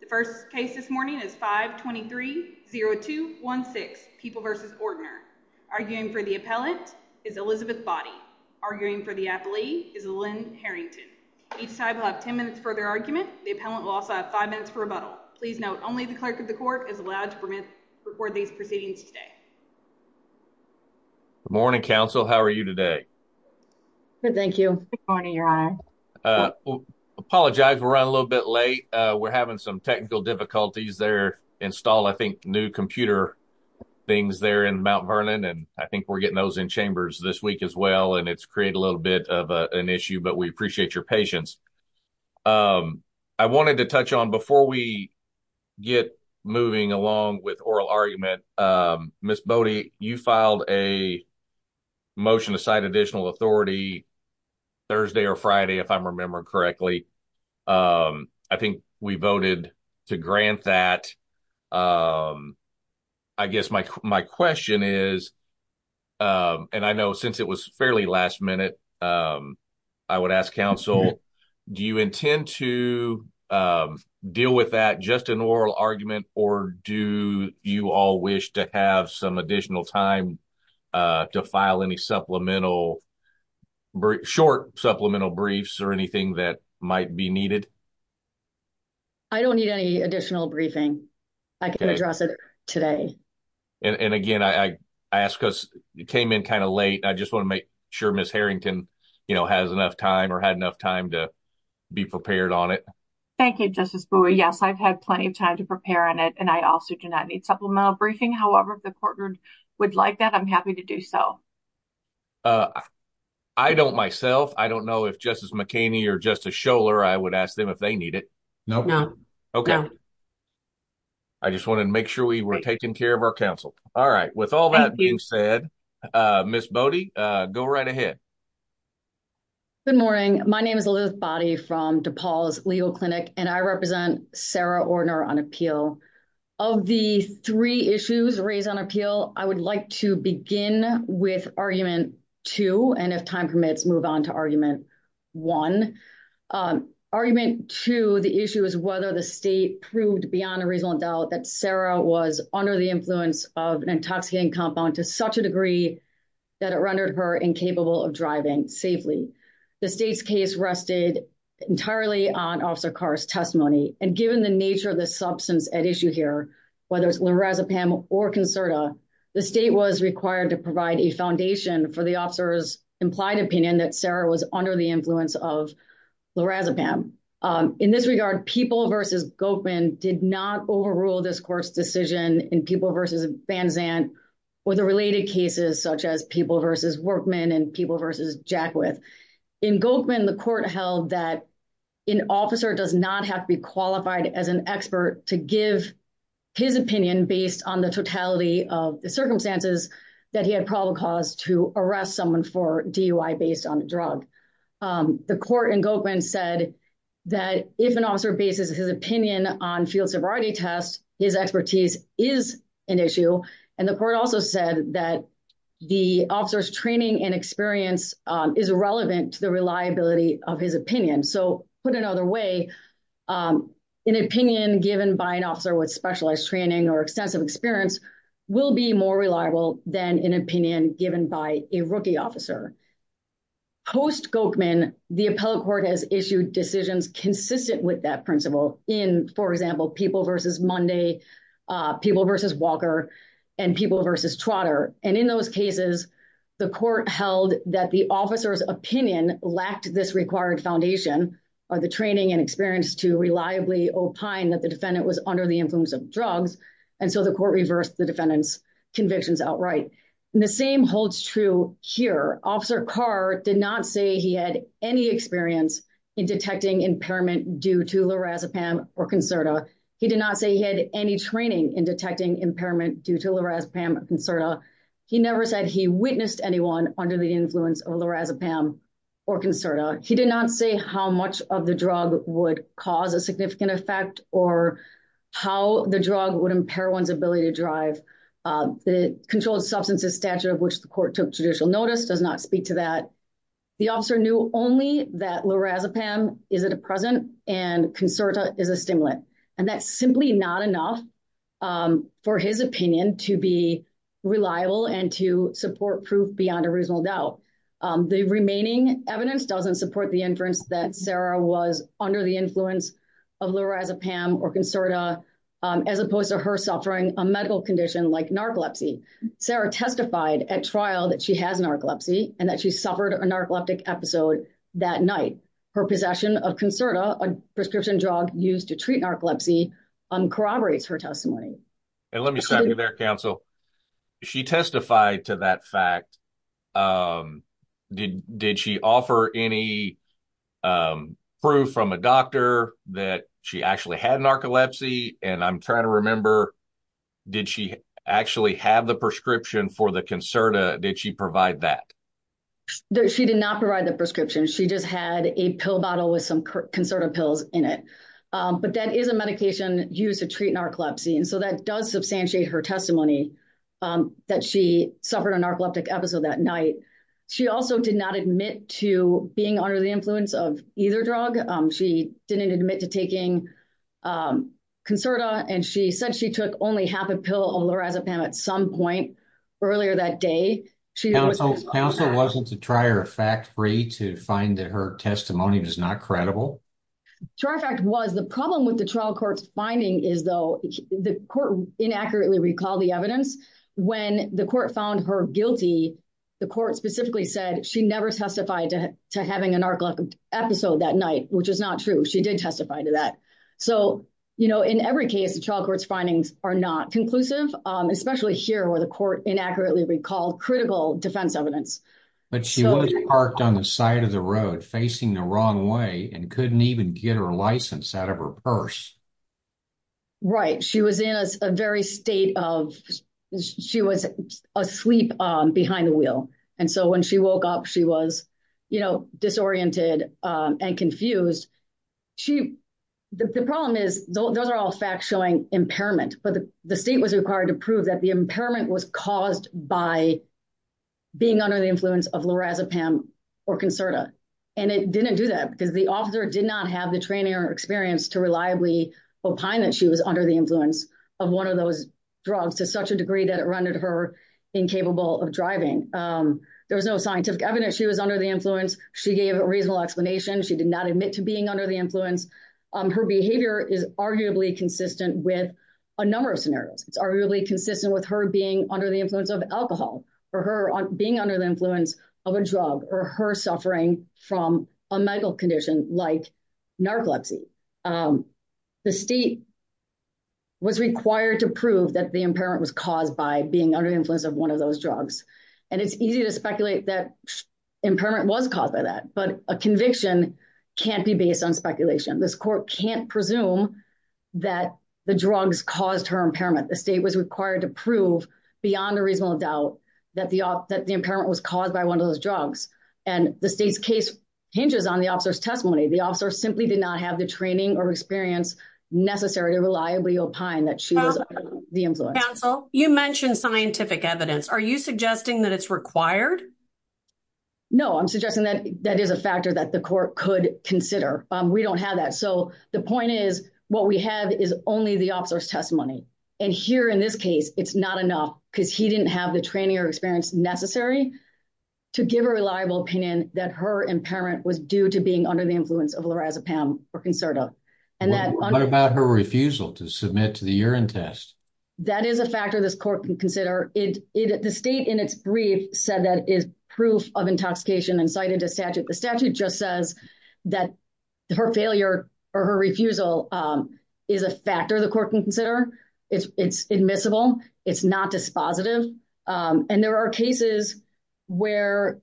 The first case this morning is 5-23-02-16, People v. Ordner. Arguing for the appellant is Elizabeth Boddy. Arguing for the appellee is Lynn Harrington. Each side will have 10 minutes for their argument. The appellant will also have 5 minutes for rebuttal. Please note, only the clerk of the court is allowed to record these proceedings today. Good morning, counsel. How are you today? Good, thank you. Good morning, your honor. Apologize, we're running a little bit late. We're having some technical difficulties there. Install, I think, new computer things there in Mount Vernon. And I think we're getting those in chambers this week as well. And it's created a little bit of an issue, but we appreciate your patience. I wanted to touch on, before we get moving along with oral argument, Ms. Boddy, you filed a motion to cite additional authority Thursday or Friday, if I'm remembering correctly. I think we voted to grant that. I guess my question is, and I know since it was fairly last minute, I would ask counsel, do you intend to deal with that just an oral argument, or do you all wish to have some additional time to file any supplemental, brief, short supplemental briefs or anything that might be needed? I don't need any additional briefing. I can address it today. And again, I ask us, it came in kind of late. I just want to make sure Ms. Harrington, you know, has enough time or had enough time to be prepared on it. Thank you, Justice Bowie. Yes, I've had plenty of time to prepare on it. And I also do not need supplemental briefing. However, if the courtroom would like that, I'm happy to do so. Uh, I don't myself. I don't know if Justice McKinney or Justice Scholar, I would ask them if they need it. No, no. Okay. I just wanted to make sure we were taking care of our counsel. All right. With all that being said, Ms. Boddy, go right ahead. Good morning. My name is Elizabeth Boddy from DePaul's legal clinic, and I represent Sarah Ordner on appeal. Of the three issues raised on appeal, I would like to begin with argument two. And if time permits, move on to argument one. Argument two, the issue is whether the state proved beyond a reasonable doubt that Sarah was under the influence of an intoxicating compound to such a degree that it rendered her incapable of driving safely. The state's case rested entirely on Officer Carr's testimony. And given the nature of the substance at issue here, whether it's lorazepam or Concerta, the state was required to provide a foundation for the officer's implied opinion that Sarah was under the influence of lorazepam. In this regard, People v. Goekman did not overrule this court's decision in People v. Van Zandt or the related cases, such as People v. Workman and People v. Jackwith. In Goekman, the court held that an officer does not have to be qualified as an expert to give his opinion based on the totality of the circumstances that he had probable cause to arrest someone for DUI based on a drug. The court in Goekman said that if an officer bases his opinion on field sobriety tests, his expertise is an issue. And the court also said that the officer's training and experience is relevant to the reliability of his opinion. So put another way, an opinion given by an officer with specialized training or extensive experience will be more reliable than an opinion given by a rookie officer. Post-Goekman, the appellate court has issued decisions consistent with that principle in, for example, People v. Monday, People v. Walker, and People v. Trotter. And in those cases, the court held that the officer's opinion lacked this required foundation or the training and experience to reliably opine that the defendant was under the influence of drugs. And so the court reversed the defendant's convictions outright. And the same holds true here. Officer Carr did not say he had any experience in detecting impairment due to lorazepam or Concerta. He did not say he had any training in detecting impairment due to lorazepam or Concerta. He never said he witnessed anyone under the influence of lorazepam or Concerta. He did not say how much of the drug would cause a significant effect or how the drug would impair one's ability to drive. The controlled substances statute of which the court took judicial notice does not speak to that. The officer knew only that lorazepam is a depressant and Concerta is a stimulant. That's simply not enough for his opinion to be reliable and to support proof beyond a reasonable doubt. The remaining evidence doesn't support the inference that Sarah was under the influence of lorazepam or Concerta as opposed to her suffering a medical condition like narcolepsy. Sarah testified at trial that she has narcolepsy and that she suffered a narcoleptic episode that night. Her possession of Concerta, a prescription drug used to treat narcolepsy, corroborates her testimony. Let me stop you there, counsel. She testified to that fact. Did she offer any proof from a doctor that she actually had narcolepsy? And I'm trying to remember, did she actually have the prescription for the Concerta? Did she provide that? She did not provide the prescription. She just had a pill bottle with some Concerta pills in it. But that is a medication used to treat narcolepsy. And so that does substantiate her testimony that she suffered a narcoleptic episode that night. She also did not admit to being under the influence of either drug. She didn't admit to taking Concerta and she said she took only half a pill of lorazepam at some point earlier that day. Counsel, wasn't the trier fact free to find that her testimony was not credible? Trier fact was. The problem with the trial court's finding is though, the court inaccurately recalled the evidence. When the court found her guilty, the court specifically said she never testified to having a narcoleptic episode that night, which is not true. She did testify to that. So, you know, in every case, the trial court's findings are not conclusive, especially here where the court inaccurately recalled critical defense evidence. But she was parked on the side of the road, facing the wrong way and couldn't even get her license out of her purse. Right. She was in a very state of, she was asleep behind the wheel. And so when she woke up, she was, you know, disoriented and confused. She, the problem is, those are all facts showing impairment, but the state was required to prove that the impairment was caused by being under the influence of lorazepam or Concerta. And it didn't do that because the officer did not have the training or experience to reliably opine that she was under the influence of one of those drugs to such a degree that it rendered her incapable of driving. There was no scientific evidence she was under the influence. She gave a reasonable explanation. She did not admit to being under the influence. Her behavior is arguably consistent with a number of scenarios. It's arguably consistent with her being under the influence of alcohol or her being under the influence of a drug or her suffering from a medical condition like narcolepsy. The state was required to prove that the impairment was caused by being under the influence of one of those drugs. And it's easy to speculate that impairment was caused by that, but a conviction can't be based on speculation. This court can't presume that the drugs caused her impairment. The state was required to prove beyond a reasonable doubt that the impairment was caused by one of those drugs. And the state's case hinges on the officer's testimony. The officer simply did not have the training or experience necessary to reliably opine that she was under the influence. Counsel, you mentioned scientific evidence. Are you suggesting that it's required? No, I'm suggesting that that is a factor that the court could consider. We don't have that. So the point is, what we have is only the officer's testimony. And here in this case, it's not enough because he didn't have the training or experience necessary to give a reliable opinion that her impairment was due to being under the influence of lorazepam or Concerta. And that- What about her refusal to submit to the urine test? That is a factor this court can consider. The state in its brief said that is proof of intoxication incited to statute. The statute just says that her failure or her refusal is a factor the court can consider. It's admissible. It's not dispositive. And there are cases where,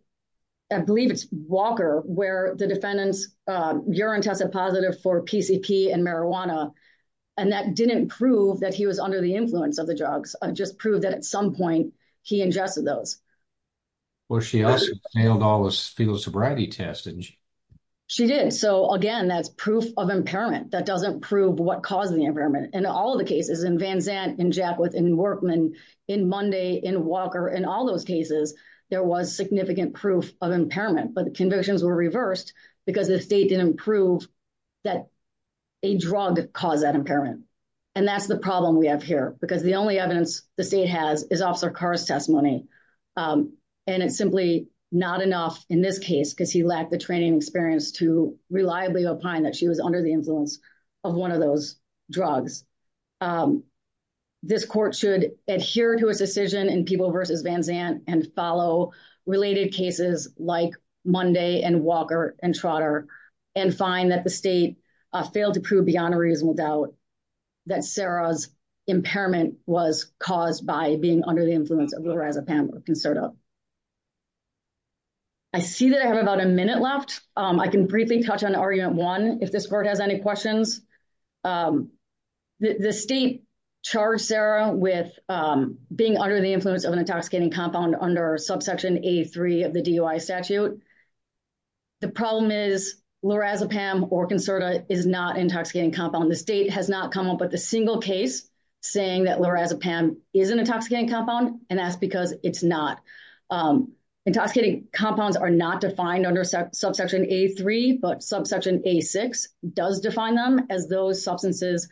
I believe it's Walker, where the defendant's urine tested positive for PCP and marijuana. And that didn't prove that he was under the influence of the drugs. Just proved that at some point he ingested those. Well, she also nailed all those fetal sobriety tests, didn't she? She did. So again, that's proof of impairment. That doesn't prove what caused the impairment. In all the cases, in Van Zandt, in Jackwith, in Workman, in Monday, in Walker, in all those cases, there was significant proof of impairment. But the convictions were reversed because the state didn't prove that a drug caused that impairment. And that's the problem we have here. Because the only evidence the state has is Officer Carr's testimony. And it's simply not enough in this case, because he lacked the training experience to reliably opine that she was under the influence of one of those drugs. This court should adhere to its decision in Peeble versus Van Zandt and follow related cases like Monday and Walker and Trotter and find that the state failed to prove beyond a reasonable doubt that Sarah's impairment was caused by being under the influence of lorazepam or Concerta. I see that I have about a minute left. I can briefly touch on argument one, if this court has any questions. The state charged Sarah with being under the influence of an intoxicating compound under subsection A3 of the DUI statute. The problem is lorazepam or Concerta is not an intoxicating compound. The state has not come up with a single case saying that lorazepam is an intoxicating compound, and that's because it's not. Intoxicating compounds are not defined under subsection A3, but subsection A6 does define them as those substances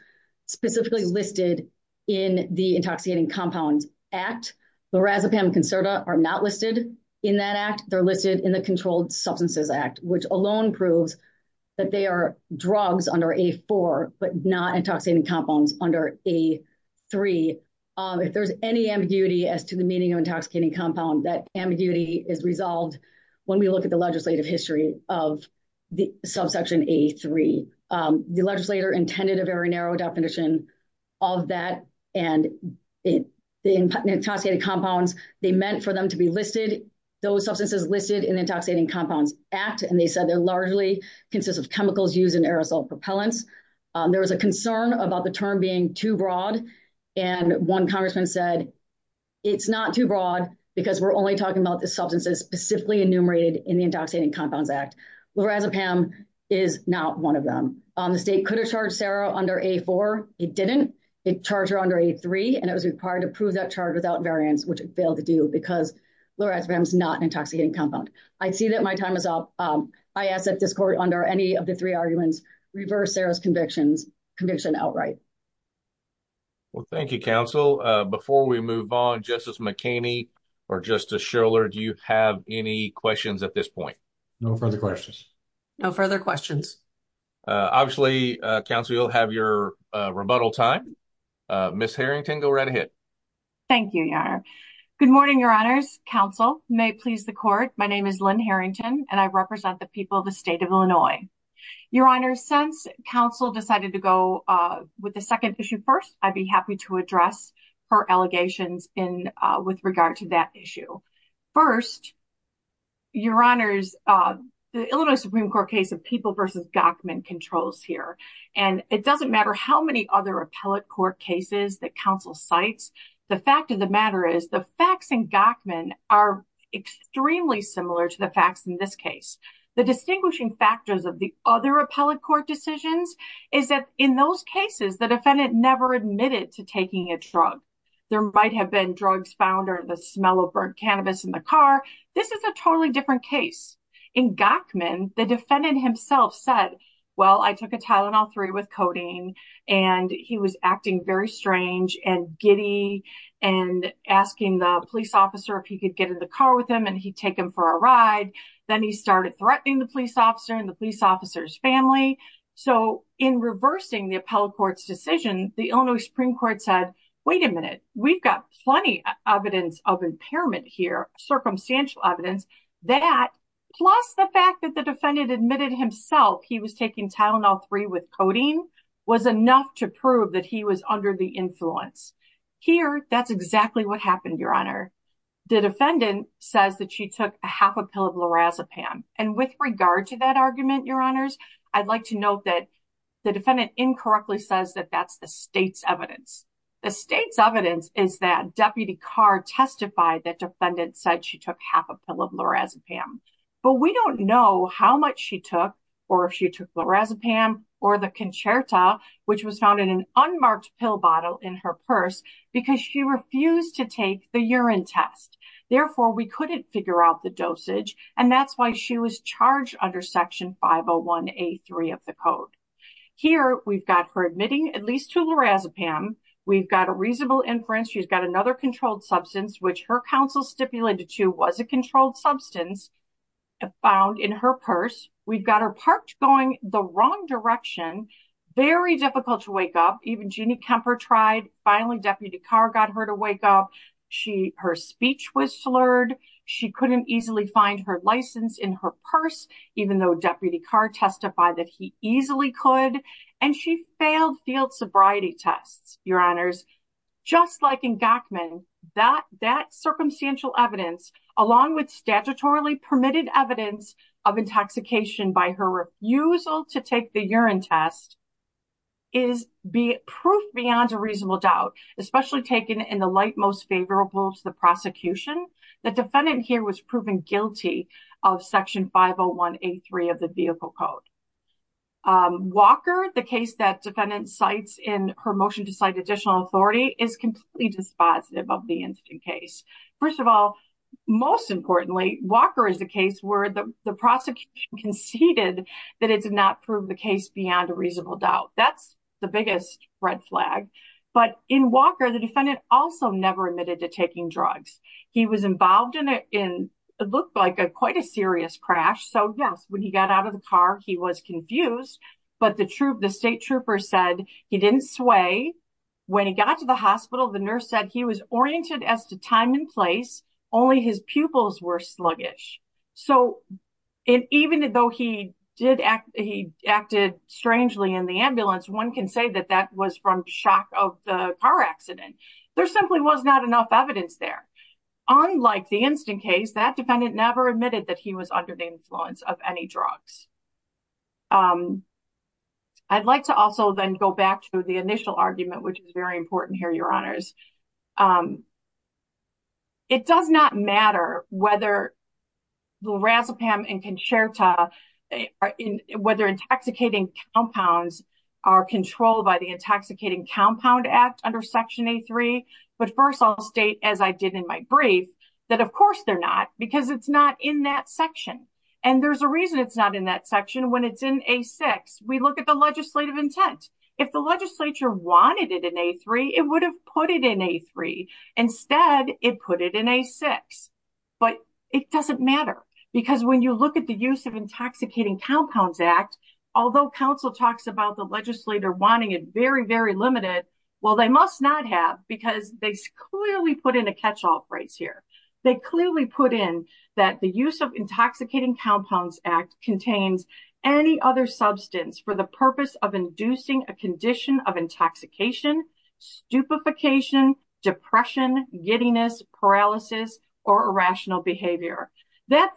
specifically listed in the Intoxicating Compounds Act. Lorazepam and Concerta are not listed in that act. They're listed in the Controlled Substances Act, which alone proves that they are drugs under A4, but not intoxicating compounds under A3. If there's any ambiguity as to the meaning of intoxicating compound, that ambiguity is resolved when we look at the legislative history of the subsection A3. The legislator intended a very narrow definition of that, and the intoxicating compounds, they meant for them to be listed, those substances listed in the Intoxicating Compounds Act, and they said they largely consist of chemicals used in aerosol propellants. There was a concern about the term being too broad, and one congressman said it's not too broad because we're only talking about the substances specifically enumerated in the Intoxicating Compounds Act. Lorazepam is not one of them. The state could have charged Sarah under A4. It didn't. It charged her under A3, and it was required to prove that charge without variance, which it failed to do because lorazepam is not an intoxicating compound. I see that my time is up. I ask that this court, under any of the three arguments, reverse Sarah's conviction outright. Well, thank you, Counsel. Before we move on, Justice McHaney or Justice Schiller, do you have any questions at this point? No further questions. No further questions. Obviously, Counsel, you'll have your rebuttal time. Ms. Harrington, go right ahead. Thank you, Your Honor. Good morning, Your Honors. Counsel, may it please the court, my name is Lynn Harrington, and I represent the people of the state of Illinois. Your Honor, since Counsel decided to go with the second issue first, I'd be happy to address her allegations with regard to that issue. First, Your Honors, the Illinois Supreme Court case of People v. Gochman controls here, and it doesn't matter how many other appellate court cases that Counsel cites, the fact of the matter is the facts in Gochman are extremely similar to the facts in this case. The distinguishing factors of the other appellate court decisions is that in those cases, the defendant never admitted to taking a drug. There might have been drugs found or the smell of burnt cannabis in the car. This is a totally different case. In Gochman, the defendant himself said, well, I took a Tylenol-3 with codeine, and he was acting very strange and giddy and asking the police officer if he could get in the car with him and he'd take him for a ride. Then he started threatening the police officer and the police officer's family. So in reversing the appellate court's decision, the Illinois Supreme Court said, wait a minute, we've got plenty of evidence of impairment here, circumstantial evidence that, plus the fact that the defendant admitted himself he was taking Tylenol-3 with codeine was enough to prove that he was under the influence. Here, that's exactly what happened, Your Honor. The defendant says that she took a half a pill of lorazepam. And with regard to that argument, Your Honors, I'd like to note that the defendant incorrectly says that that's the state's evidence. The state's evidence is that Deputy Carr testified that defendant said she took half a pill of lorazepam. But we don't know how much she took or if she took lorazepam or the Concerta, which was found in an unmarked pill bottle in her purse because she refused to take the urine test. Therefore, we couldn't figure out the dosage. And that's why she was charged under Section 501A3 of the code. Here, we've got her admitting at least to lorazepam. We've got a reasonable inference. She's got another controlled substance, which her counsel stipulated to was a controlled substance found in her purse. We've got her parked going the wrong direction, very difficult to wake up. Even Jeannie Kemper tried. Finally, Deputy Carr got her to wake up. Her speech was slurred. She couldn't easily find her license in her purse, even though Deputy Carr testified that he easily could. And she failed field sobriety tests, Your Honors. Just like in Gochman, that circumstantial evidence, along with statutorily permitted evidence of intoxication by her refusal to take the urine test is proof beyond a reasonable doubt, especially taken in the light most favorable to the prosecution. The defendant here was proven guilty of Section 501A3 of the vehicle code. Walker, the case that defendant cites in her motion to cite additional authority is completely dispositive of the incident case. First of all, most importantly, Walker is a case where the prosecution conceded that it did not prove the case beyond a reasonable doubt. That's the biggest red flag. But in Walker, the defendant also never admitted to taking drugs. He was involved in what looked like quite a serious crash. So yes, when he got out of the car, he was confused. But the state trooper said he didn't sway. When he got to the hospital, the nurse said he was oriented as to time and place. Only his pupils were sluggish. So even though he acted strangely in the ambulance, one can say that that was from shock of the car accident. There simply was not enough evidence there. Unlike the incident case, that defendant never admitted that he was under the influence of any drugs. I'd like to also then go back to the initial argument, which is very important here, your honors. It does not matter whether the razopam and concerta, or whether intoxicating compounds are controlled by the Intoxicating Compound Act under Section A3. But first I'll state, as I did in my brief, that of course they're not, because it's not in that section. And there's a reason it's not in that section. When it's in A6, we look at the legislative intent. If the legislature wanted it in A3, it would have put it in A3. Instead, it put it in A6. But it doesn't matter. Because when you look at the use of Intoxicating Compounds Act, although counsel talks about the legislator wanting it very, very limited, well, they must not have, because they clearly put in a catch-all phrase here. They clearly put in that the use of Intoxicating Compounds Act contains any other substance for the purpose of inducing a condition of intoxication, stupefication, depression, giddiness, paralysis, or irrational behavior. That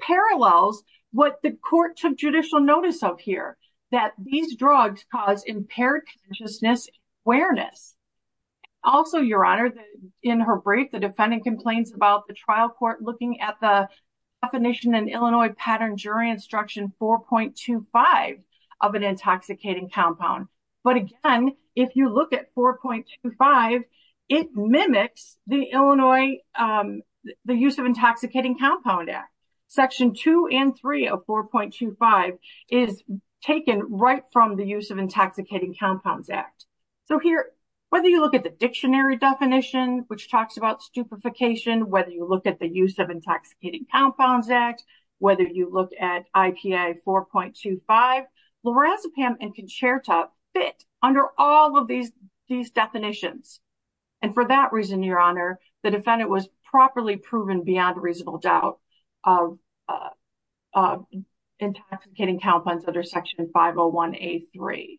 parallels what the court took judicial notice of here, that these drugs cause impaired consciousness and awareness. Also, Your Honor, in her brief, the defendant complains about the trial court looking at the definition in Illinois Pattern Jury Instruction 4.25 of an intoxicating compound. But again, if you look at 4.25, it mimics the Illinois Use of Intoxicating Compound Act. Section 2 and 3 of 4.25 is taken right from the Use of Intoxicating Compounds Act. So here, whether you look at the dictionary definition, which talks about stupefication, whether you look at the Use of Intoxicating Compounds Act, whether you look at IPA 4.25, lorazepam and concerta fit under all of these definitions. And for that reason, Your Honor, the defendant was properly proven beyond reasonable doubt of intoxicating compounds under Section 501A3.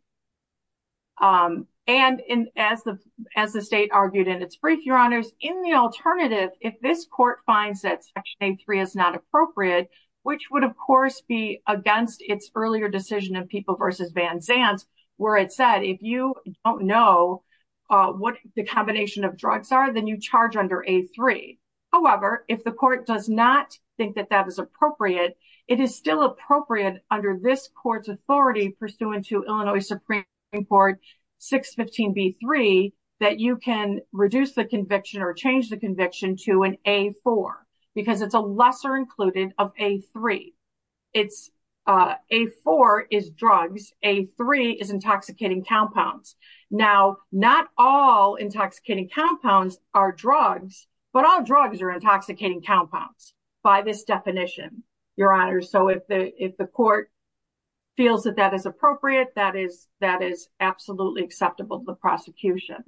And as the state argued in its brief, Your Honors, in the alternative, if this court finds that Section A3 is not appropriate, which would, of course, be against its earlier decision of People v. Van Zandt, where it said, if you don't know what the combination of drugs are, then you charge under A3. However, if the court does not think that that is appropriate, it is still appropriate under this court's authority pursuant to Illinois Supreme Court 615B3 that you can reduce the conviction or change the conviction to an A4 because it's a lesser included of A3. It's A4 is drugs, A3 is intoxicating compounds. Now, not all intoxicating compounds are drugs, but all drugs are intoxicating compounds by this definition, Your Honor. So if the court feels that that is appropriate, that is absolutely acceptable to the prosecution.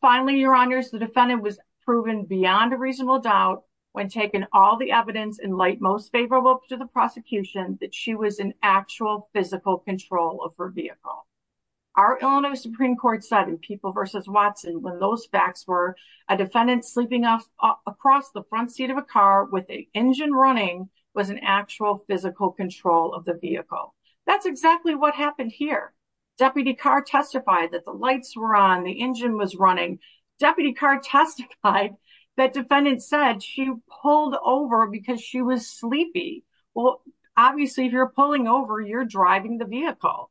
Finally, Your Honors, the defendant was proven beyond a reasonable doubt when taking all the evidence in light most favorable to the prosecution that she was in actual physical control of her vehicle. Our Illinois Supreme Court said in People v. Watson, when those facts were, a defendant sleeping across the front seat of a car with a engine running was in actual physical control of the vehicle. That's exactly what happened here. Deputy Carr testified that the lights were on, the engine was running. Deputy Carr testified that defendant said she pulled over because she was sleepy. Well, obviously if you're pulling over, you're driving the vehicle.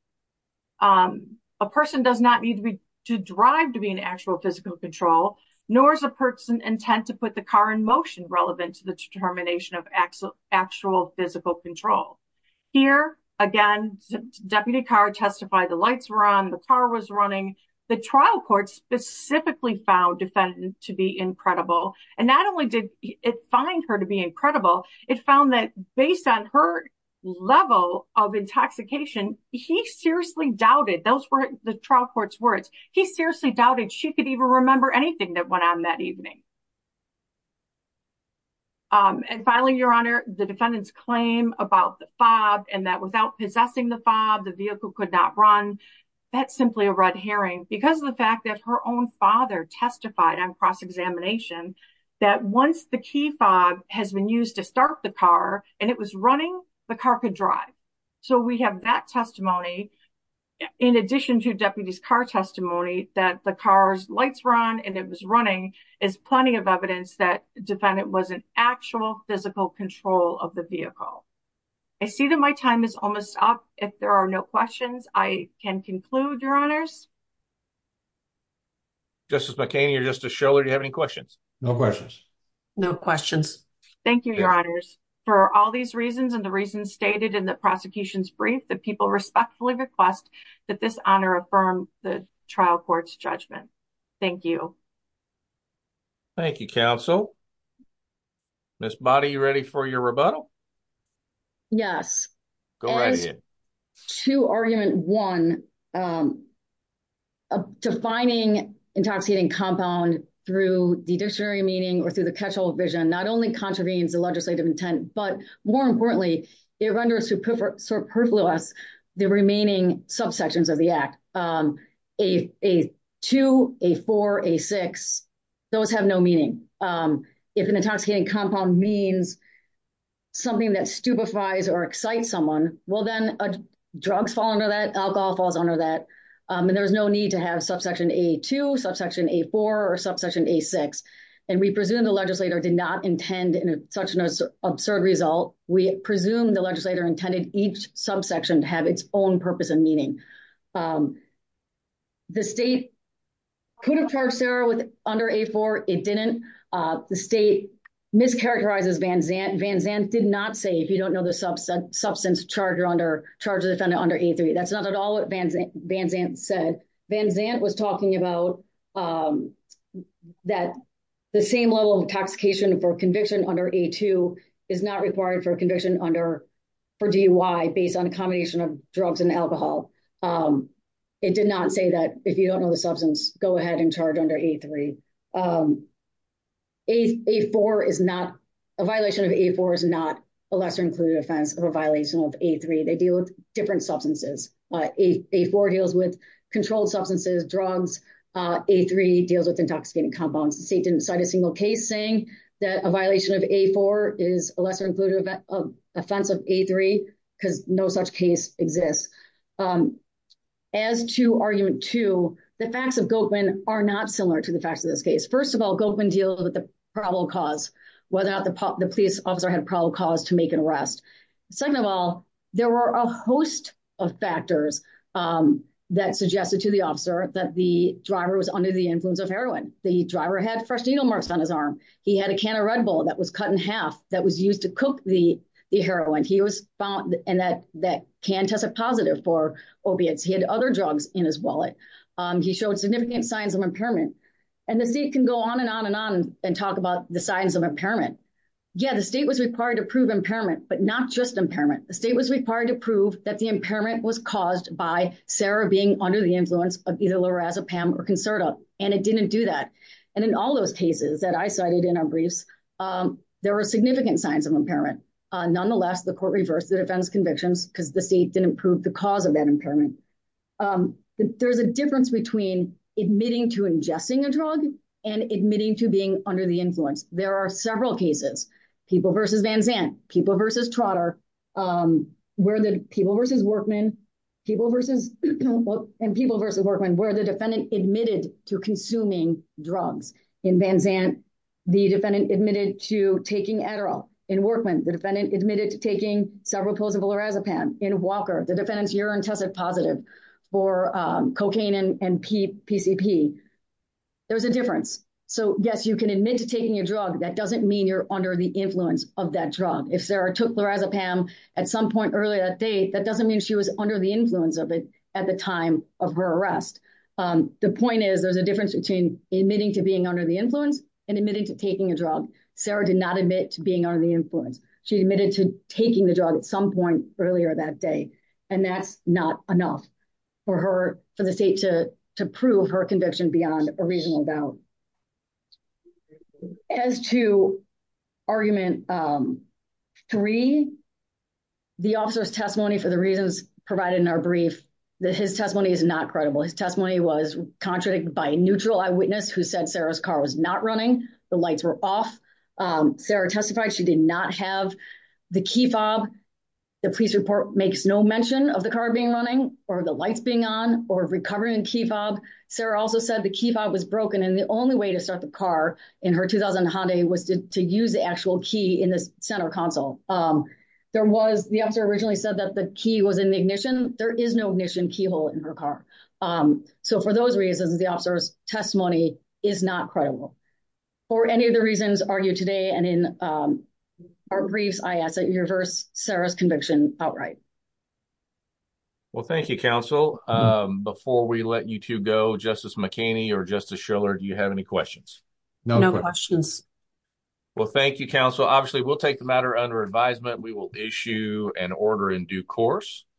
A person does not need to drive to be in actual physical control, nor is a person intent to put the car in motion relevant to the determination of actual physical control. Here again, Deputy Carr testified the lights were on, the car was running. The trial court specifically found defendant to be incredible. And not only did it find her to be incredible, it found that based on her level of intoxication, he seriously doubted, those were the trial court's words, he seriously doubted she could even remember anything that went on that evening. And finally, Your Honor, the defendant's claim about the fob and that without possessing the fob, the vehicle could not run, that's simply a red herring because of the fact that her own father testified on cross-examination that once the key fob has been used to start the car and it was running, the car could drive. So we have that testimony in addition to Deputy Carr's testimony that the car's lights were on and it was running is plenty of evidence that defendant was in actual physical control of the vehicle. I see that my time is almost up. If there are no questions, I can conclude, Your Honors. Justice McHaney or Justice Schiller, do you have any questions? No questions. No questions. Thank you, Your Honors. For all these reasons and the reasons stated in the prosecution's brief, the people respectfully request that this honor affirm the trial court's judgment. Thank you. Thank you, counsel. Ms. Boddy, you ready for your rebuttal? Yes. Go right ahead. To argument one, defining intoxicating compound through the dictionary meaning or through the catch-all vision not only contravenes the legislative intent, but more importantly, it renders superfluous the remaining subsections of the act. A2, A4, A6, those have no meaning. If an intoxicating compound means something that stupefies or excites someone, well then, drugs fall under that, alcohol falls under that, and there's no need to have subsection A2, subsection A4, or subsection A6. And we presume the legislator did not intend in such an absurd result, we presume the legislator intended each subsection to have its own purpose and meaning. The state could have charged Sarah with under A4, it didn't. The state mischaracterizes Van Zandt. Van Zandt did not say, if you don't know the substance, charge the defendant under A3. That's not at all what Van Zandt said. Van Zandt was talking about that the same level of intoxication for conviction under A2 is not required for conviction under, for DUI based on a combination of drugs and alcohol. It did not say that if you don't know the substance, go ahead and charge under A3. A4 is not, a violation of A4 is not a lesser included offense of a violation of A3. They deal with different substances. A4 deals with controlled substances, drugs. A3 deals with intoxicating compounds. The state didn't cite a single case saying that a violation of A4 is a lesser included offense of A3 because no such case exists. As to argument two, the facts of Gopin are not similar to the facts of this case. First of all, Gopin deal with the probable cause, whether or not the police officer had a probable cause to make an arrest. Second of all, there were a host of factors that suggested to the officer that the driver was under the influence of heroin. The driver had fresh needle marks on his arm. He had a can of Red Bull that was cut in half that was used to cook the heroin. He was found in that can tested positive for opiates. He had other drugs in his wallet. He showed significant signs of impairment and the state can go on and on and on and talk about the signs of impairment. Yeah, the state was required to prove impairment, but not just impairment. The state was required to prove that the impairment was caused by Sarah being under the influence of either Lorazepam or Concerta. And it didn't do that. And in all those cases that I cited in our briefs, there were significant signs of impairment. Nonetheless, the court reversed the defense convictions because the state didn't prove the cause of that impairment. There's a difference between admitting to ingesting a drug and admitting to being under the influence. There are several cases, People v. Van Zandt, People v. Trotter, where the People v. Workman, People v. Workman, where the defendant admitted to consuming drugs. In Van Zandt, the defendant admitted to taking Adderall. In Workman, the defendant admitted to taking several pills of Lorazepam. In Walker, the defendant's urine tested positive for cocaine and PCP. There's a difference. So yes, you can admit to taking a drug. That doesn't mean you're under the influence of that drug. If Sarah took Lorazepam at some point earlier that day, that doesn't mean she was under the influence of it at the time of her arrest. The point is there's a difference between admitting to being under the influence and admitting to taking a drug. Sarah did not admit to being under the influence. She admitted to taking the drug at some point earlier that day. And that's not enough for her, for the state to prove her conviction beyond a reasonable doubt. As to argument three, the officer's testimony, for the reasons provided in our brief, his testimony is not credible. His testimony was contradicted by a neutral eyewitness who said Sarah's car was not running. The lights were off. Sarah testified she did not have the key fob. The police report makes no mention of the car being running or the lights being on. Or recovering key fob. Sarah also said the key fob was broken and the only way to start the car in her 2000 Hyundai was to use the actual key in the center console. The officer originally said that the key was in the ignition. There is no ignition keyhole in her car. So for those reasons, the officer's testimony is not credible. For any of the reasons argued today and in our briefs, I ask that you reverse Sarah's conviction outright. Well, thank you, counsel. Before we let you two go, Justice McKinney or Justice Schiller, do you have any questions? No questions. Well, thank you, counsel. Obviously, we'll take the matter under advisement. We will issue an order in due course.